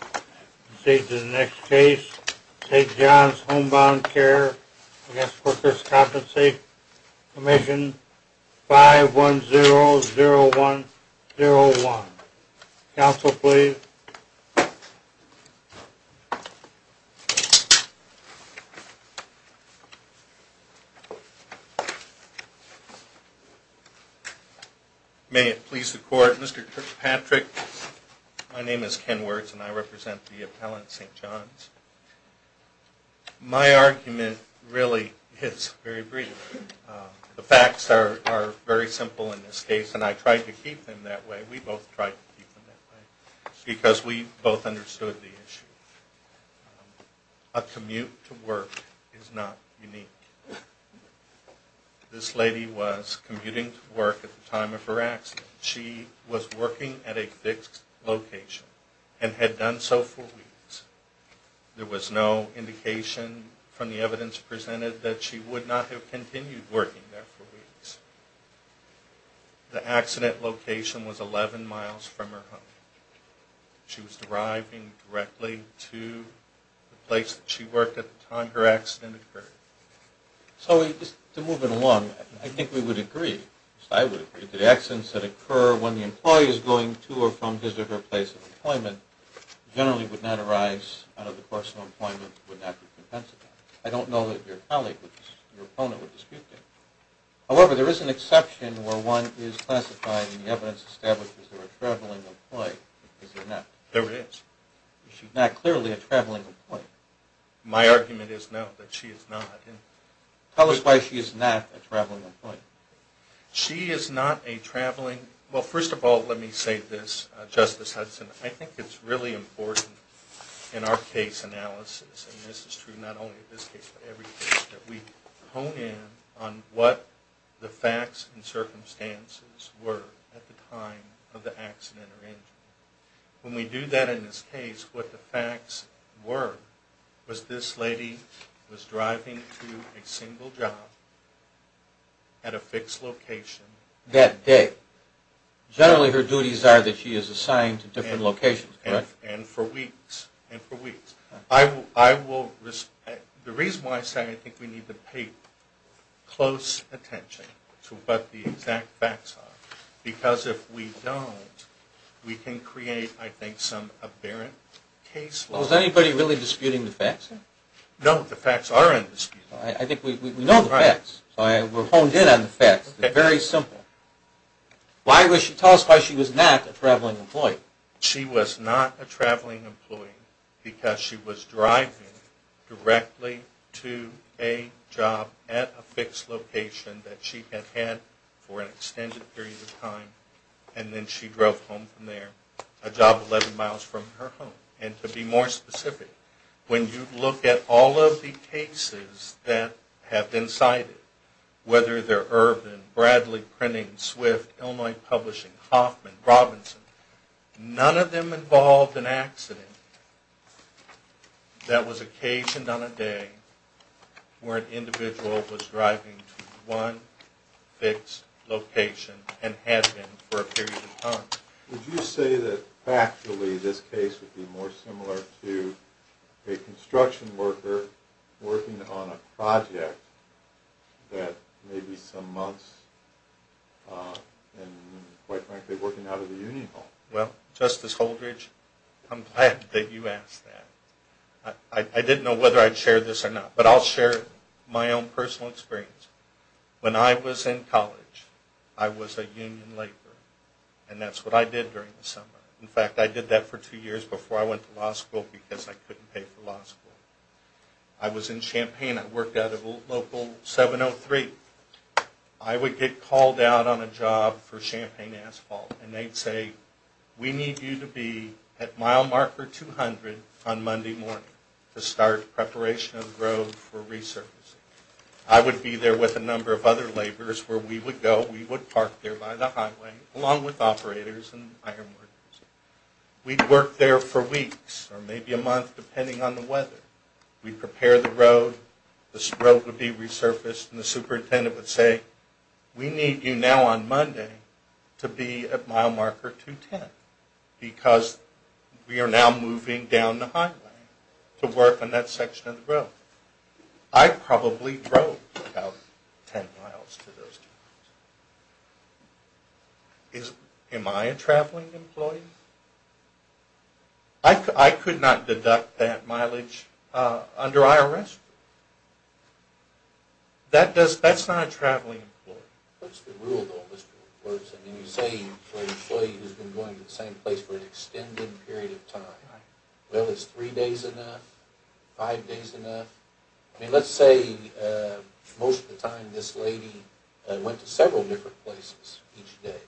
We proceed to the next case, St. John's Homebound Care v. The Workers' Compensation Commission, 5100101. Counsel, please. May it please the Court, Mr. Kirkpatrick, my name is Ken Wirtz and I represent the appellant, St. John's. My argument really is very brief. The facts are very simple in this case and I tried to keep them that way. We both tried to keep them that way because we both understood the issue. A commute to work is not unique. This lady was commuting to work at the time of her accident. She was working at a fixed location and had done so for weeks. There was no indication from the evidence presented that she would not have continued working there for weeks. The accident location was 11 miles from her home. She was driving directly to the place that she worked at the time her accident occurred. So just to move it along, I think we would agree, at least I would agree, that accidents that occur when the employee is going to or from his or her place of employment generally would not arise out of the course of employment and would not be compensated. I don't know that your colleague or your opponent would dispute that. However, there is an exception where one is classified and the evidence establishes that she is a traveling employee. Is it not? There is. She is not clearly a traveling employee. My argument is no, that she is not. Tell us why she is not a traveling employee. She is not a traveling...well, first of all, let me say this, Justice Hudson. I think it's really important in our case analysis, and this is true not only in this case but every case, that we hone in on what the facts and circumstances were at the time of the accident or injury. When we do that in this case, what the facts were was this lady was driving to a single job at a fixed location. That day. Generally her duties are that she is assigned to different locations, correct? And for weeks. And for weeks. The reason why I say I think we need to pay close attention to what the exact facts are, because if we don't, we can create, I think, some aberrant case law. Well, is anybody really disputing the facts? No, the facts are undisputed. I think we know the facts. We're honed in on the facts. It's very simple. Tell us why she was not a traveling employee. She was not a traveling employee because she was driving directly to a job at a fixed location that she had had for an extended period of time, and then she drove home from there, a job 11 miles from her home. And to be more specific, when you look at all of the cases that have been cited, whether they're Urban, Bradley Printing, Swift, Illinois Publishing, Hoffman, Robinson, none of them involved an accident that was occasioned on a day where an individual was driving to one fixed location and had been for a period of time. Would you say that factually this case would be more similar to a construction worker working on a project that maybe some months, and quite frankly, working out of a union home? Well, Justice Holdridge, I'm glad that you asked that. I didn't know whether I'd share this or not, but I'll share my own personal experience. When I was in college, I was a union laborer, and that's what I did during the summer. In fact, I did that for two years before I went to law school because I couldn't pay for law school. I was in Champaign. I worked out of a local 703. I would get called out on a job for Champaign Asphalt, and they'd say, we need you to be at mile marker 200 on Monday morning to start preparation of the road for resurfacing. I would be there with a number of other laborers where we would go, we would park there by the highway along with operators and iron workers. We'd work there for weeks or maybe a month depending on the weather. We'd prepare the road, the road would be resurfaced, and the superintendent would say, we need you now on Monday to be at mile marker 210 because we are now moving down the highway to work on that section of the road. I probably drove about 10 miles to those two places. Am I a traveling employee? I could not deduct that mileage under IRS. That's not a traveling employee. What's the rule? You say you're an employee who's been going to the same place for an extended period of time. Is three days enough? Five days enough? Let's say most of the time this lady went to several different places each day,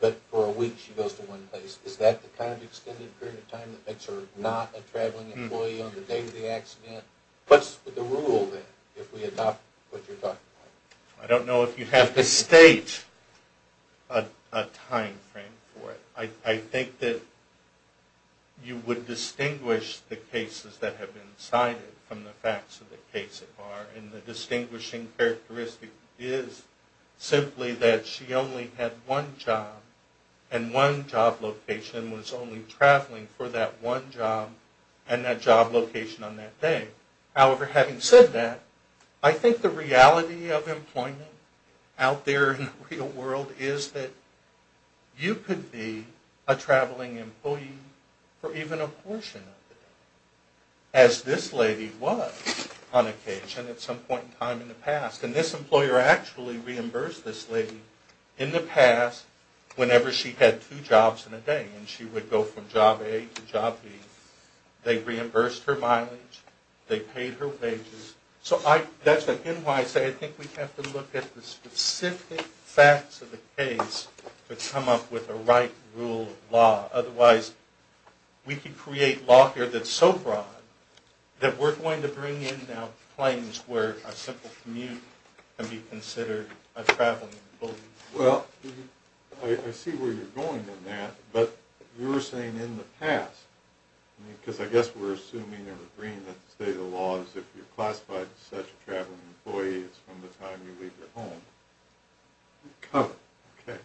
but for a week she goes to one place. Is that the kind of extended period of time that makes her not a traveling employee on the day of the accident? What's the rule then if we adopt what you're talking about? I don't know if you have to state a time frame for it. I think that you would distinguish the cases that have been cited from the facts of the case. And the distinguishing characteristic is simply that she only had one job and one job location and was only traveling for that one job and that job location on that day. However, having said that, I think the reality of employment out there in the real world is that you could be a traveling employee for even a portion of it, as this lady was on occasion at some point in time in the past. And this employer actually reimbursed this lady in the past whenever she had two jobs in a day and she would go from job A to job B. They reimbursed her mileage. They paid her wages. So that's why I say I think we have to look at the specific facts of the case to come up with a right rule of law. Otherwise, we could create law here that's so broad that we're going to bring in now claims where a simple commute can be considered a traveling employee. Well, I see where you're going in that, but you were saying in the past, because I guess we're assuming or agreeing that the state of the law is if you're classified as such a traveling employee, it's from the time you leave your home. Okay.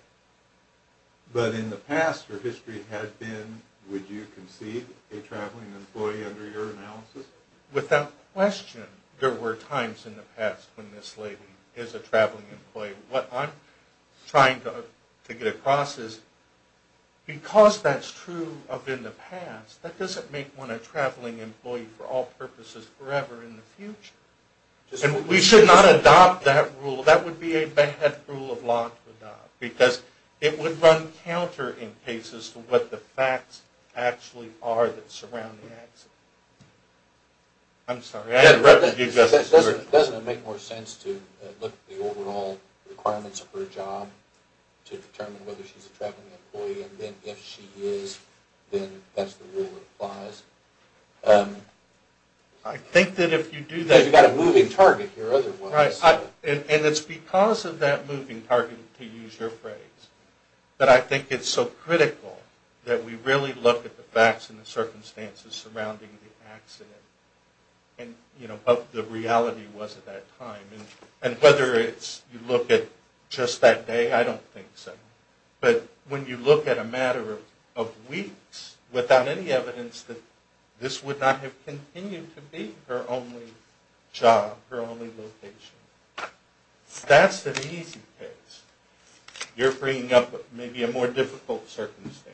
But in the past, her history had been, would you concede a traveling employee under your analysis? Without question, there were times in the past when this lady is a traveling employee. What I'm trying to get across is because that's true of in the past, that doesn't make one a traveling employee for all purposes forever in the future. And we should not adopt that rule. That would be a bad rule of law to adopt because it would run counter in cases to what the facts actually are that surround the accident. I'm sorry. Doesn't it make more sense to look at the overall requirements of her job to determine whether she's a traveling employee and then if she is, then that's the rule that applies? I think that if you do that... You've got a moving target here otherwise. Right. And it's because of that moving target, to use your phrase, that I think it's so critical that we really look at the facts and the circumstances surrounding the accident and, you know, what the reality was at that time. And whether you look at just that day, I don't think so. But when you look at a matter of weeks without any evidence that this would not have continued to be her only job, her only location, that's an easy case. You're bringing up maybe a more difficult circumstance.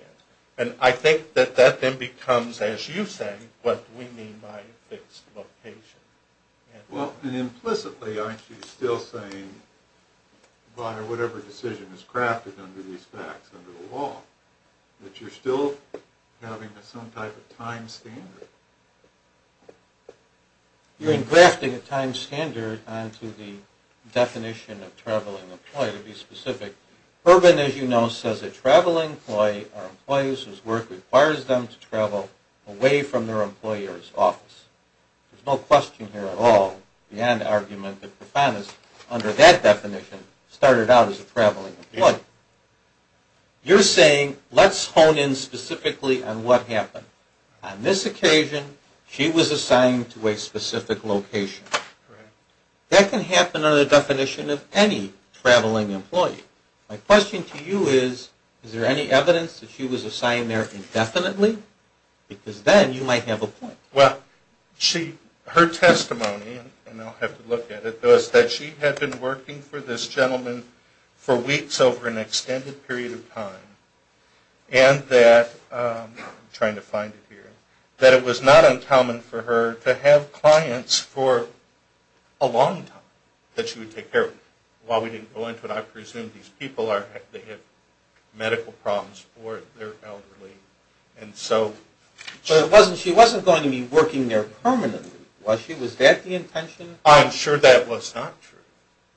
And I think that that then becomes, as you say, what we mean by fixed location. Well, and implicitly, aren't you still saying, by whatever decision is crafted under these facts under the law, that you're still having some type of time standard? You're engrafting a time standard onto the definition of traveling employee, to be specific. Urban, as you know, says a traveling employee or employees whose work requires them to travel away from their employer's office. There's no question here at all beyond the argument that Profanus, under that definition, started out as a traveling employee. You're saying, let's hone in specifically on what happened. On this occasion, she was assigned to a specific location. Correct. That can happen under the definition of any traveling employee. My question to you is, is there any evidence that she was assigned there indefinitely? Because then you might have a point. Well, her testimony, and I'll have to look at it, was that she had been working for this gentleman for weeks over an extended period of time. And that, I'm trying to find it here, that it was not uncommon for her to have clients for a long time that she would take care of. While we didn't go into it, I presume these people have medical problems or they're elderly. But she wasn't going to be working there permanently, was she? Was that the intention? I'm sure that was not true.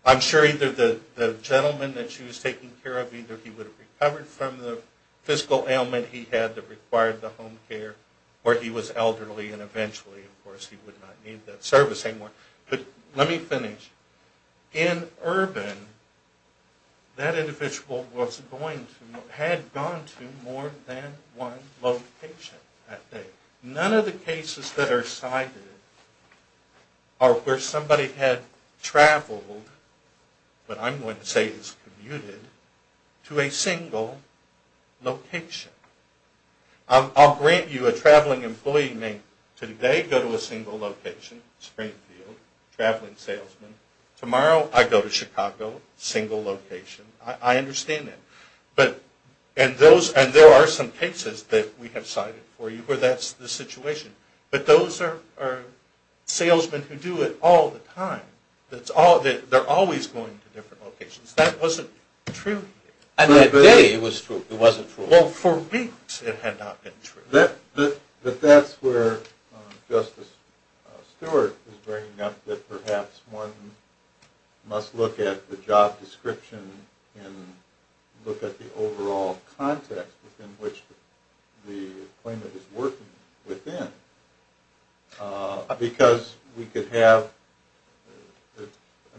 I'm sure either the gentleman that she was taking care of, either he would have recovered from the physical ailment he had that required the home care, or he was elderly and eventually, of course, he would not need that service anymore. But let me finish. In urban, that individual had gone to more than one location that day. None of the cases that are cited are where somebody had traveled, what I'm going to say is commuted, to a single location. I'll grant you a traveling employee may today go to a single location, Springfield, traveling salesman. Tomorrow, I go to Chicago, single location. I understand that. And there are some cases that we have cited for you where that's the situation. But those are salesmen who do it all the time. They're always going to different locations. That wasn't true here. And that day, it was true. It wasn't true. Well, for weeks, it had not been true. But that's where Justice Stewart was bringing up that perhaps one must look at the job description and look at the overall context within which the claimant is working within. Because we could have an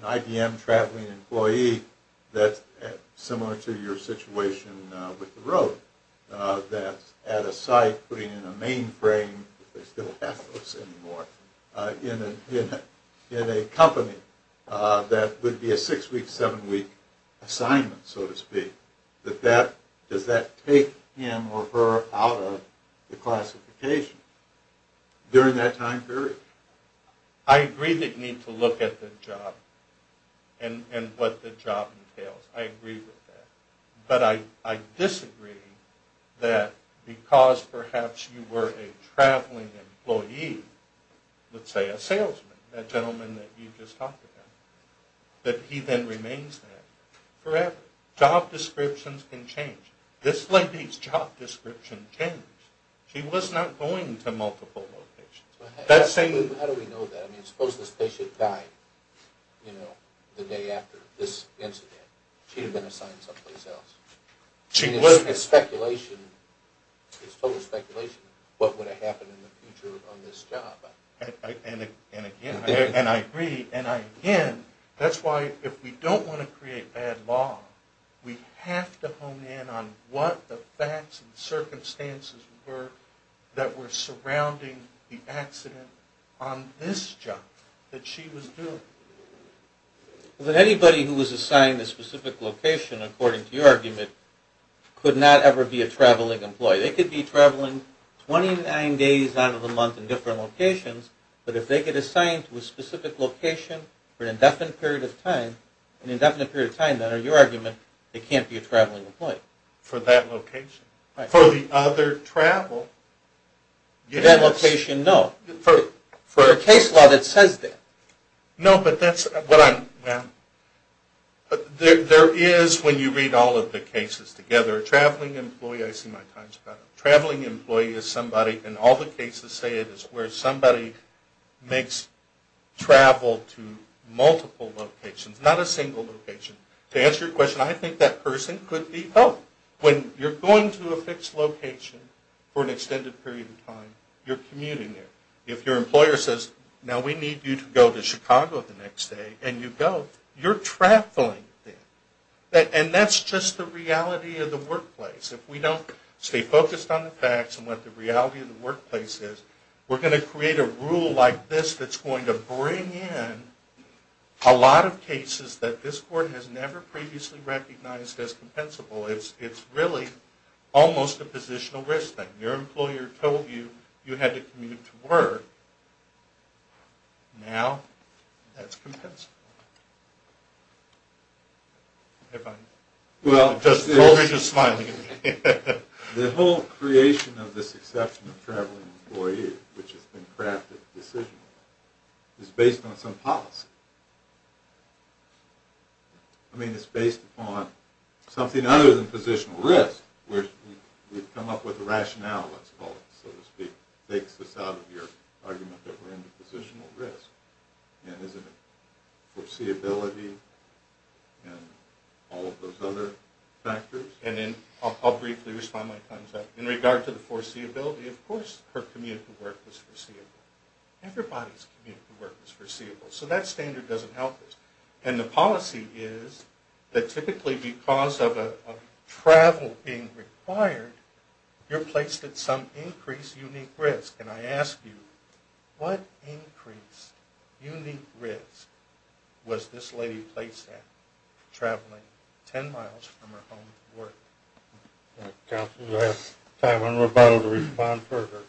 IBM traveling employee that's similar to your situation with the road, that's at a site putting in a mainframe, they still have those anymore, in a company that would be a six-week, seven-week assignment, so to speak. Does that take him or her out of the classification during that time period? I agree that you need to look at the job and what the job entails. I agree with that. But I disagree that because perhaps you were a traveling employee, let's say a salesman, that gentleman that you just talked about, that he then remains that forever. Job descriptions can change. This lady's job description changed. She was not going to multiple locations. How do we know that? I mean, suppose this patient died the day after this incident. She would have been assigned someplace else. It's speculation. It's total speculation what would have happened in the future on this job. And again, I agree. That's why if we don't want to create bad law, we have to hone in on what the facts and circumstances were that were surrounding the accident on this job that she was doing. Anybody who was assigned a specific location, according to your argument, could not ever be a traveling employee. They could be traveling 29 days out of the month in different locations, but if they get assigned to a specific location for an indefinite period of time, an indefinite period of time, under your argument, they can't be a traveling employee. For that location. Right. For the other travel. For that location, no. For a case law that says that. No, but that's what I'm, well, there is, when you read all of the cases together, a traveling employee, I see my time's about up, a traveling employee is somebody, and all the cases say it is where somebody makes travel to multiple locations, not a single location. To answer your question, I think that person could be, oh, when you're going to a fixed location for an extended period of time, you're commuting there. If your employer says, now we need you to go to Chicago the next day, and you go, you're traveling there. And that's just the reality of the workplace. If we don't stay focused on the facts and what the reality of the workplace is, we're going to create a rule like this that's going to bring in a lot of cases that this court has never previously recognized as compensable. It's really almost a positional risk thing. Your employer told you you had to commute to work. Now that's compensable. Well, the whole creation of this exception of traveling employees, which has been crafted decisionally, is based on some policy. I mean, it's based upon something other than positional risk, where we've come up with a rationale, let's call it, so to speak, that takes us out of your argument that we're into positional risk. Is it foreseeability and all of those other factors? I'll briefly respond when the time's up. In regard to the foreseeability, of course her commute to work was foreseeable. Everybody's commute to work was foreseeable. So that standard doesn't help us. And the policy is that typically because of travel being required, you're placed at some increased unique risk. And I ask you, what increased unique risk was this lady placed at, traveling 10 miles from her home to work? Counsel, you'll have time on rebuttal to respond further.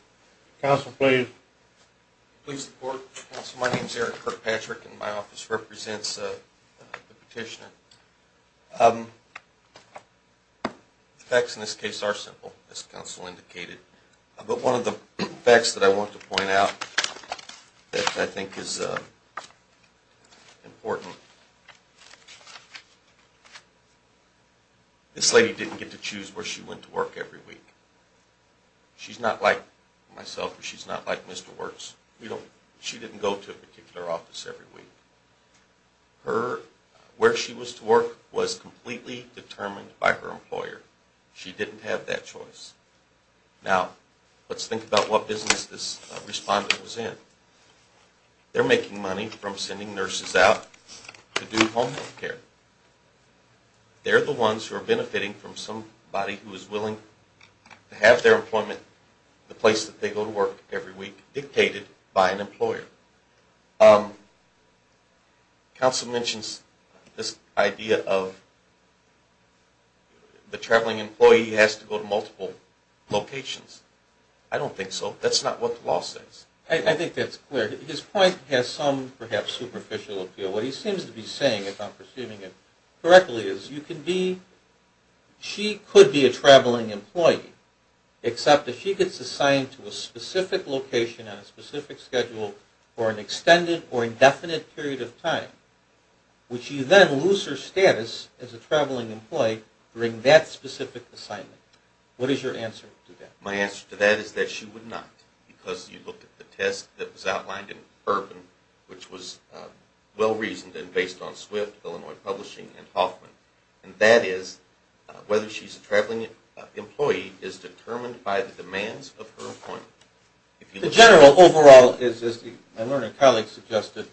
Counsel, please. Please report, counsel. My name's Eric Kirkpatrick, and my office represents the petitioner. The facts in this case are simple, as counsel indicated. But one of the facts that I want to point out that I think is important, this lady didn't get to choose where she went to work every week. She's not like myself, she's not like Mr. Works. She didn't go to a particular office every week. Where she was to work was completely determined by her employer. She didn't have that choice. Now, let's think about what business this respondent was in. They're making money from sending nurses out to do home health care. They're the ones who are benefiting from somebody who is willing to have their employment, the place that they go to work every week, dictated by an employer. Counsel mentions this idea of the traveling employee has to go to multiple locations. I don't think so. That's not what the law says. I think that's clear. His point has some, perhaps, superficial appeal. What he seems to be saying, if I'm perceiving it correctly, is you can be – she could be a traveling employee, except if she gets assigned to a specific location on a specific schedule for an extended or indefinite period of time, would she then lose her status as a traveling employee during that specific assignment? What is your answer to that? My answer to that is that she would not, because you look at the test that was outlined in Urban, which was well-reasoned and based on Swift, Illinois Publishing, and Hoffman, and that is whether she's a traveling employee is determined by the general, overall, as my learning colleague suggested,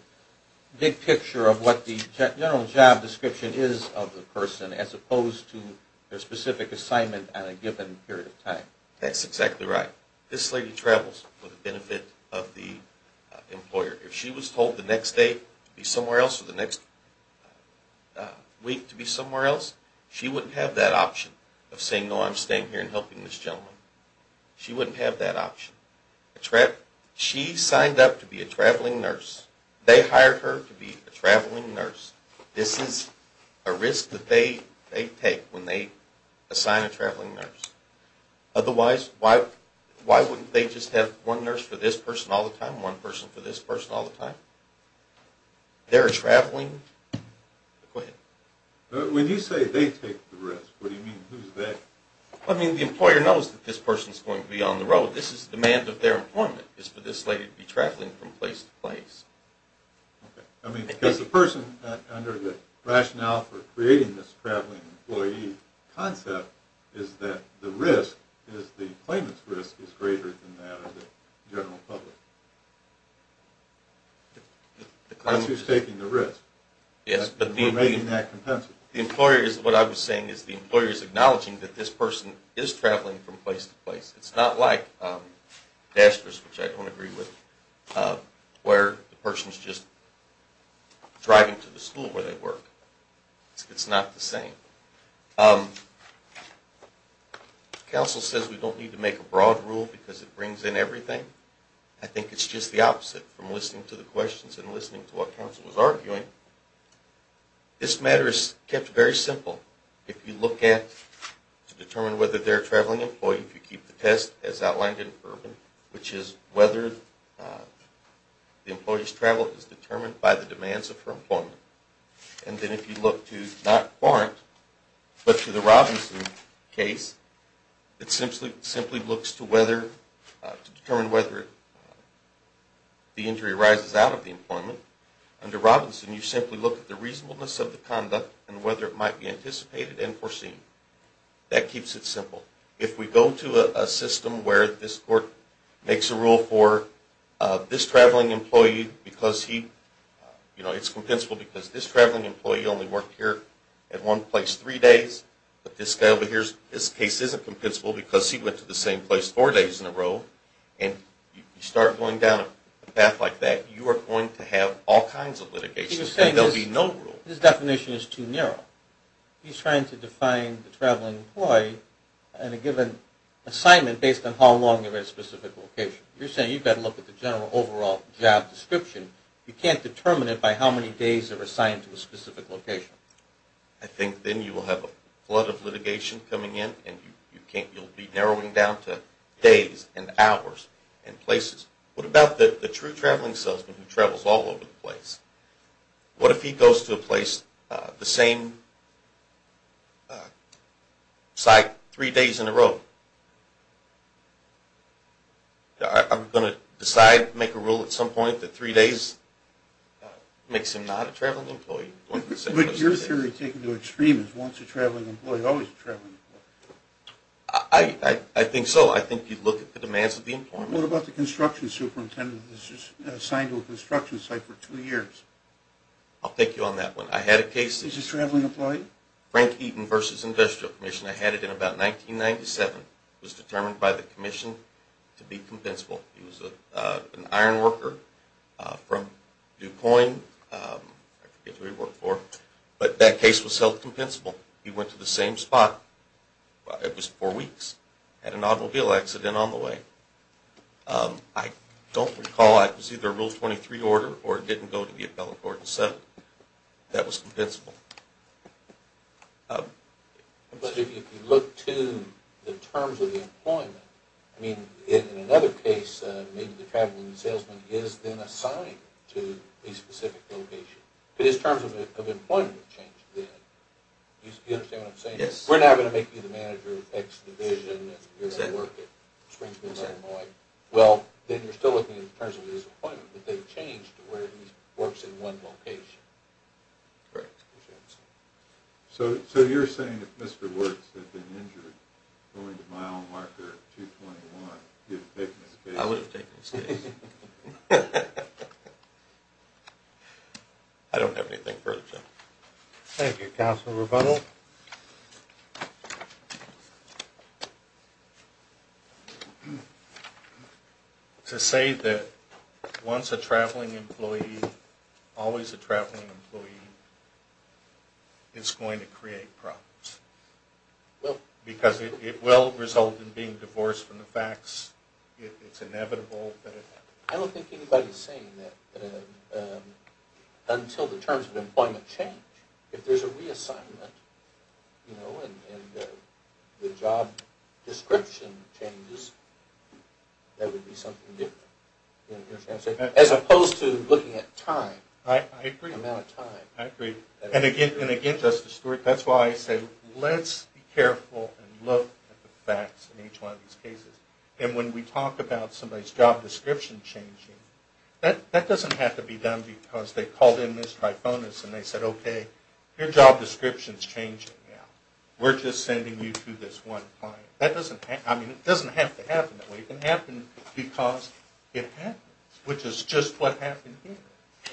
big picture of what the general job description is of the person as opposed to their specific assignment at a given period of time. That's exactly right. This lady travels for the benefit of the employer. If she was told the next day to be somewhere else or the next week to be somewhere else, she wouldn't have that option of saying, no, I'm staying here and helping this gentleman. She wouldn't have that option. She signed up to be a traveling nurse. They hired her to be a traveling nurse. This is a risk that they take when they assign a traveling nurse. Otherwise, why wouldn't they just have one nurse for this person all the time, one person for this person all the time? They're traveling. Go ahead. When you say they take the risk, what do you mean? Who's that? I mean, the employer knows that this person is going to be on the road. This is the demand of their employment is for this lady to be traveling from place to place. Okay. I mean, because the person, under the rationale for creating this traveling employee concept, is that the risk is the claimant's risk is greater than that of the general public. The claimant's risk. That's who's taking the risk. Yes. We're making that compensate. What I was saying is the employer is acknowledging that this person is traveling from place to place. It's not like DASTRS, which I don't agree with, where the person's just driving to the school where they work. It's not the same. Council says we don't need to make a broad rule because it brings in everything. I think it's just the opposite from listening to the questions and listening to what Council was arguing. This matter is kept very simple. If you look at, to determine whether they're a traveling employee, if you keep the test as outlined in Urban, which is whether the employee's travel is determined by the demands of her employment, and then if you look to not Warrant, but to the Robinson case, it simply looks to determine whether the injury arises out of the employment. Under Robinson, you simply look at the reasonableness of the conduct and whether it might be anticipated and foreseen. That keeps it simple. If we go to a system where this court makes a rule for this traveling employee because he, you know, it's compensable because this traveling employee only worked here at one place three days, but this guy over here, this case isn't compensable because he went to the same place four days in a row, and you start going down a path like that, you are going to have all kinds of litigation. There will be no rule. His definition is too narrow. He's trying to define the traveling employee in a given assignment based on how long they were at a specific location. You're saying you've got to look at the general overall job description. You can't determine it by how many days they were assigned to a specific location. I think then you will have a flood of litigation coming in, and you'll be narrowing down to days and hours and places. What about the true traveling salesman who travels all over the place? What if he goes to a place, the same site, three days in a row? I'm going to decide to make a rule at some point that three days makes him not a traveling employee. But your theory is taking it to extremes. Once a traveling employee, always a traveling employee. I think so. I think you look at the demands of the employment. What about the construction superintendent who is assigned to a construction site for two years? I'll take you on that one. I had a case. He's a traveling employee? Frank Eaton v. Industrial Commission. I had it in about 1997. It was determined by the commission to be compensable. He was an iron worker from DuPoint. I forget who he worked for. But that case was self-compensable. He went to the same spot. It was four weeks. Had an automobile accident on the way. I don't recall. It was either a Rule 23 order or it didn't go to the appellate court and settle. That was compensable. But if you look to the terms of the employment, I mean, in another case, maybe the traveling salesman is then assigned to a specific location. But his terms of employment have changed then. Do you understand what I'm saying? Yes. We're now going to make you the manager of X division and you're going to work at Springs-Mid-San Lloyd. Well, then you're still looking at the terms of his employment. But they've changed to where he works in one location. Correct. So you're saying if Mr. Wertz had been injured going to mile marker 221, you would have taken his case? I would have taken his case. I don't have anything further to add. Thank you. Counsel Rebuttal. Thank you. To say that once a traveling employee, always a traveling employee, is going to create problems. Because it will result in being divorced from the facts. It's inevitable. I don't think anybody is saying that until the terms of employment change. If there's a reassignment and the job description changes, that would be something different. Do you understand what I'm saying? As opposed to looking at time. I agree. The amount of time. I agree. And again, Justice Stewart, that's why I say let's be careful and look at the facts in each one of these cases. And when we talk about somebody's job description changing, that doesn't have to be done because they called in Ms. Trifonis and they said, okay, your job description is changing now. We're just sending you to this one client. That doesn't have to happen that way. It can happen because it happens. Which is just what happened here.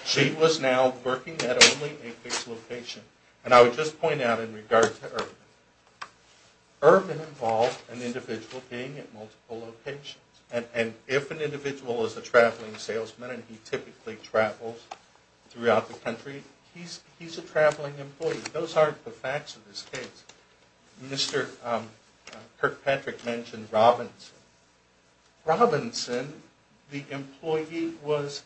She was now working at only a fixed location. And I would just point out in regard to Ervin. Ervin involved an individual being at multiple locations. And if an individual is a traveling salesman and he typically travels throughout the country, he's a traveling employee. Those aren't the facts of this case. Mr. Kirkpatrick mentioned Robinson. Robinson, the employee, was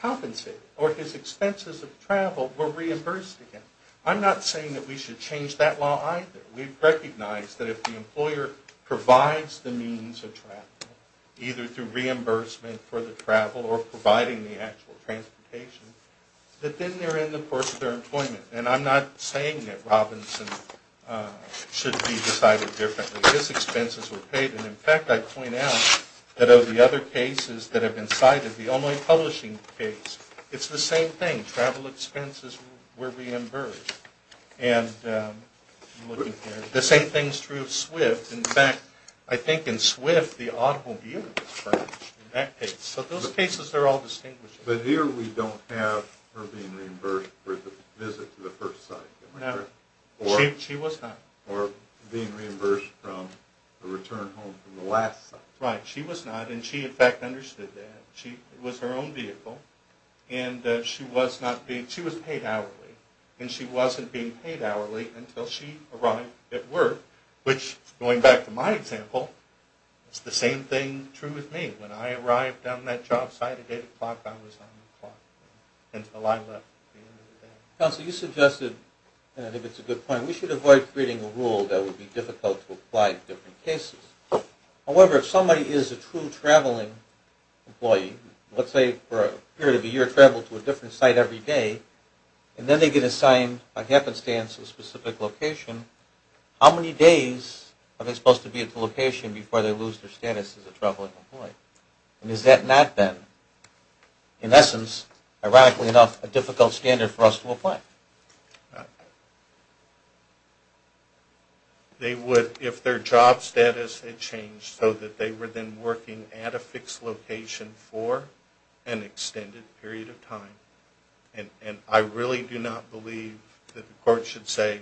compensated. Or his expenses of travel were reimbursed again. I'm not saying that we should change that law either. We recognize that if the employer provides the means of travel, either through reimbursement for the travel or providing the actual transportation, that then they're in the course of their employment. And I'm not saying that Robinson should be decided differently. His expenses were paid. And, in fact, I point out that of the other cases that have been cited, the only publishing case, it's the same thing. Travel expenses were reimbursed. And the same thing is true of Swift. In fact, I think in Swift the automobile was fined in that case. So those cases are all distinguished. But here we don't have her being reimbursed for the visit to the first site. No. She was not. Or being reimbursed from the return home from the last site. Right. She was not. And she, in fact, understood that. It was her own vehicle. And she was paid hourly. And she wasn't being paid hourly until she arrived at work, which, going back to my example, is the same thing true with me. When I arrived on that job site at 8 o'clock, I was on the clock until I left at the end of the day. Counsel, you suggested, and I think it's a good point, we should avoid creating a rule that would be difficult to apply to different cases. However, if somebody is a true traveling employee, let's say for a period of a year traveled to a different site every day, and then they get assigned a happenstance of a specific location, how many days are they supposed to be at the location before they lose their status as a traveling employee? And is that not then, in essence, ironically enough, a difficult standard for us to apply? Right. They would, if their job status had changed, so that they were then working at a fixed location for an extended period of time and I really do not believe that the court should say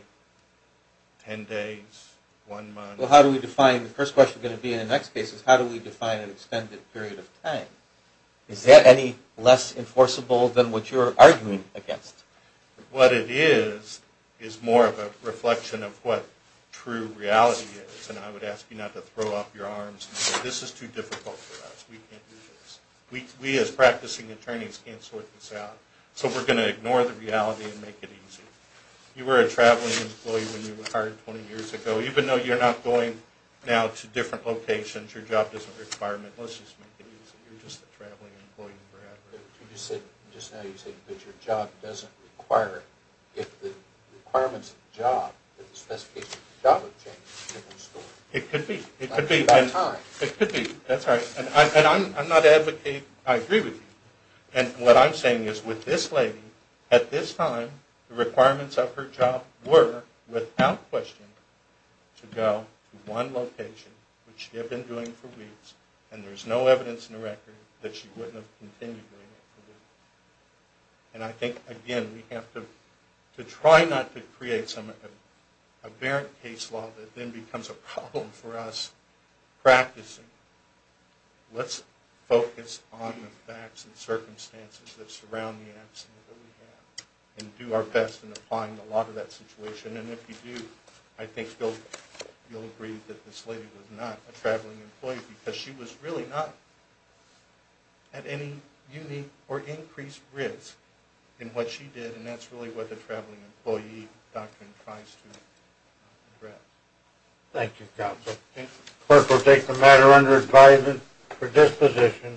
10 days, one month. Well, how do we define, the first question is going to be in the next case, is how do we define an extended period of time? Is that any less enforceable than what you're arguing against? What it is, is more of a reflection of what true reality is and I would ask you not to throw up your arms and say this is too difficult for us, we can't do this. We as practicing attorneys can't sort this out. So we're going to ignore the reality and make it easy. You were a traveling employee when you were hired 20 years ago. Even though you're not going now to different locations, your job doesn't require it. Let's just make it easy. You're just a traveling employee forever. You just said, just now you said that your job doesn't require it. If the requirements of the job, that the specifications of the job have changed, it's a different story. It could be. It could be. It could be. That's right. And I'm not advocating I agree with you. And what I'm saying is with this lady, at this time, the requirements of her job were, without question, to go to one location, which she had been doing for weeks, and there's no evidence in the record that she wouldn't have continued doing it for weeks. And I think, again, we have to try not to create a barren case law that then becomes a problem for us practicing. Let's focus on the facts and circumstances that surround the accident that we have and do our best in applying a lot of that situation. And if you do, I think you'll agree that this lady was not a traveling employee because she was really not at any unique or increased risk in what she did, and that's really what the traveling employee doctrine tries to address. Thank you, counsel. The clerk will take the matter under advisement for disposition.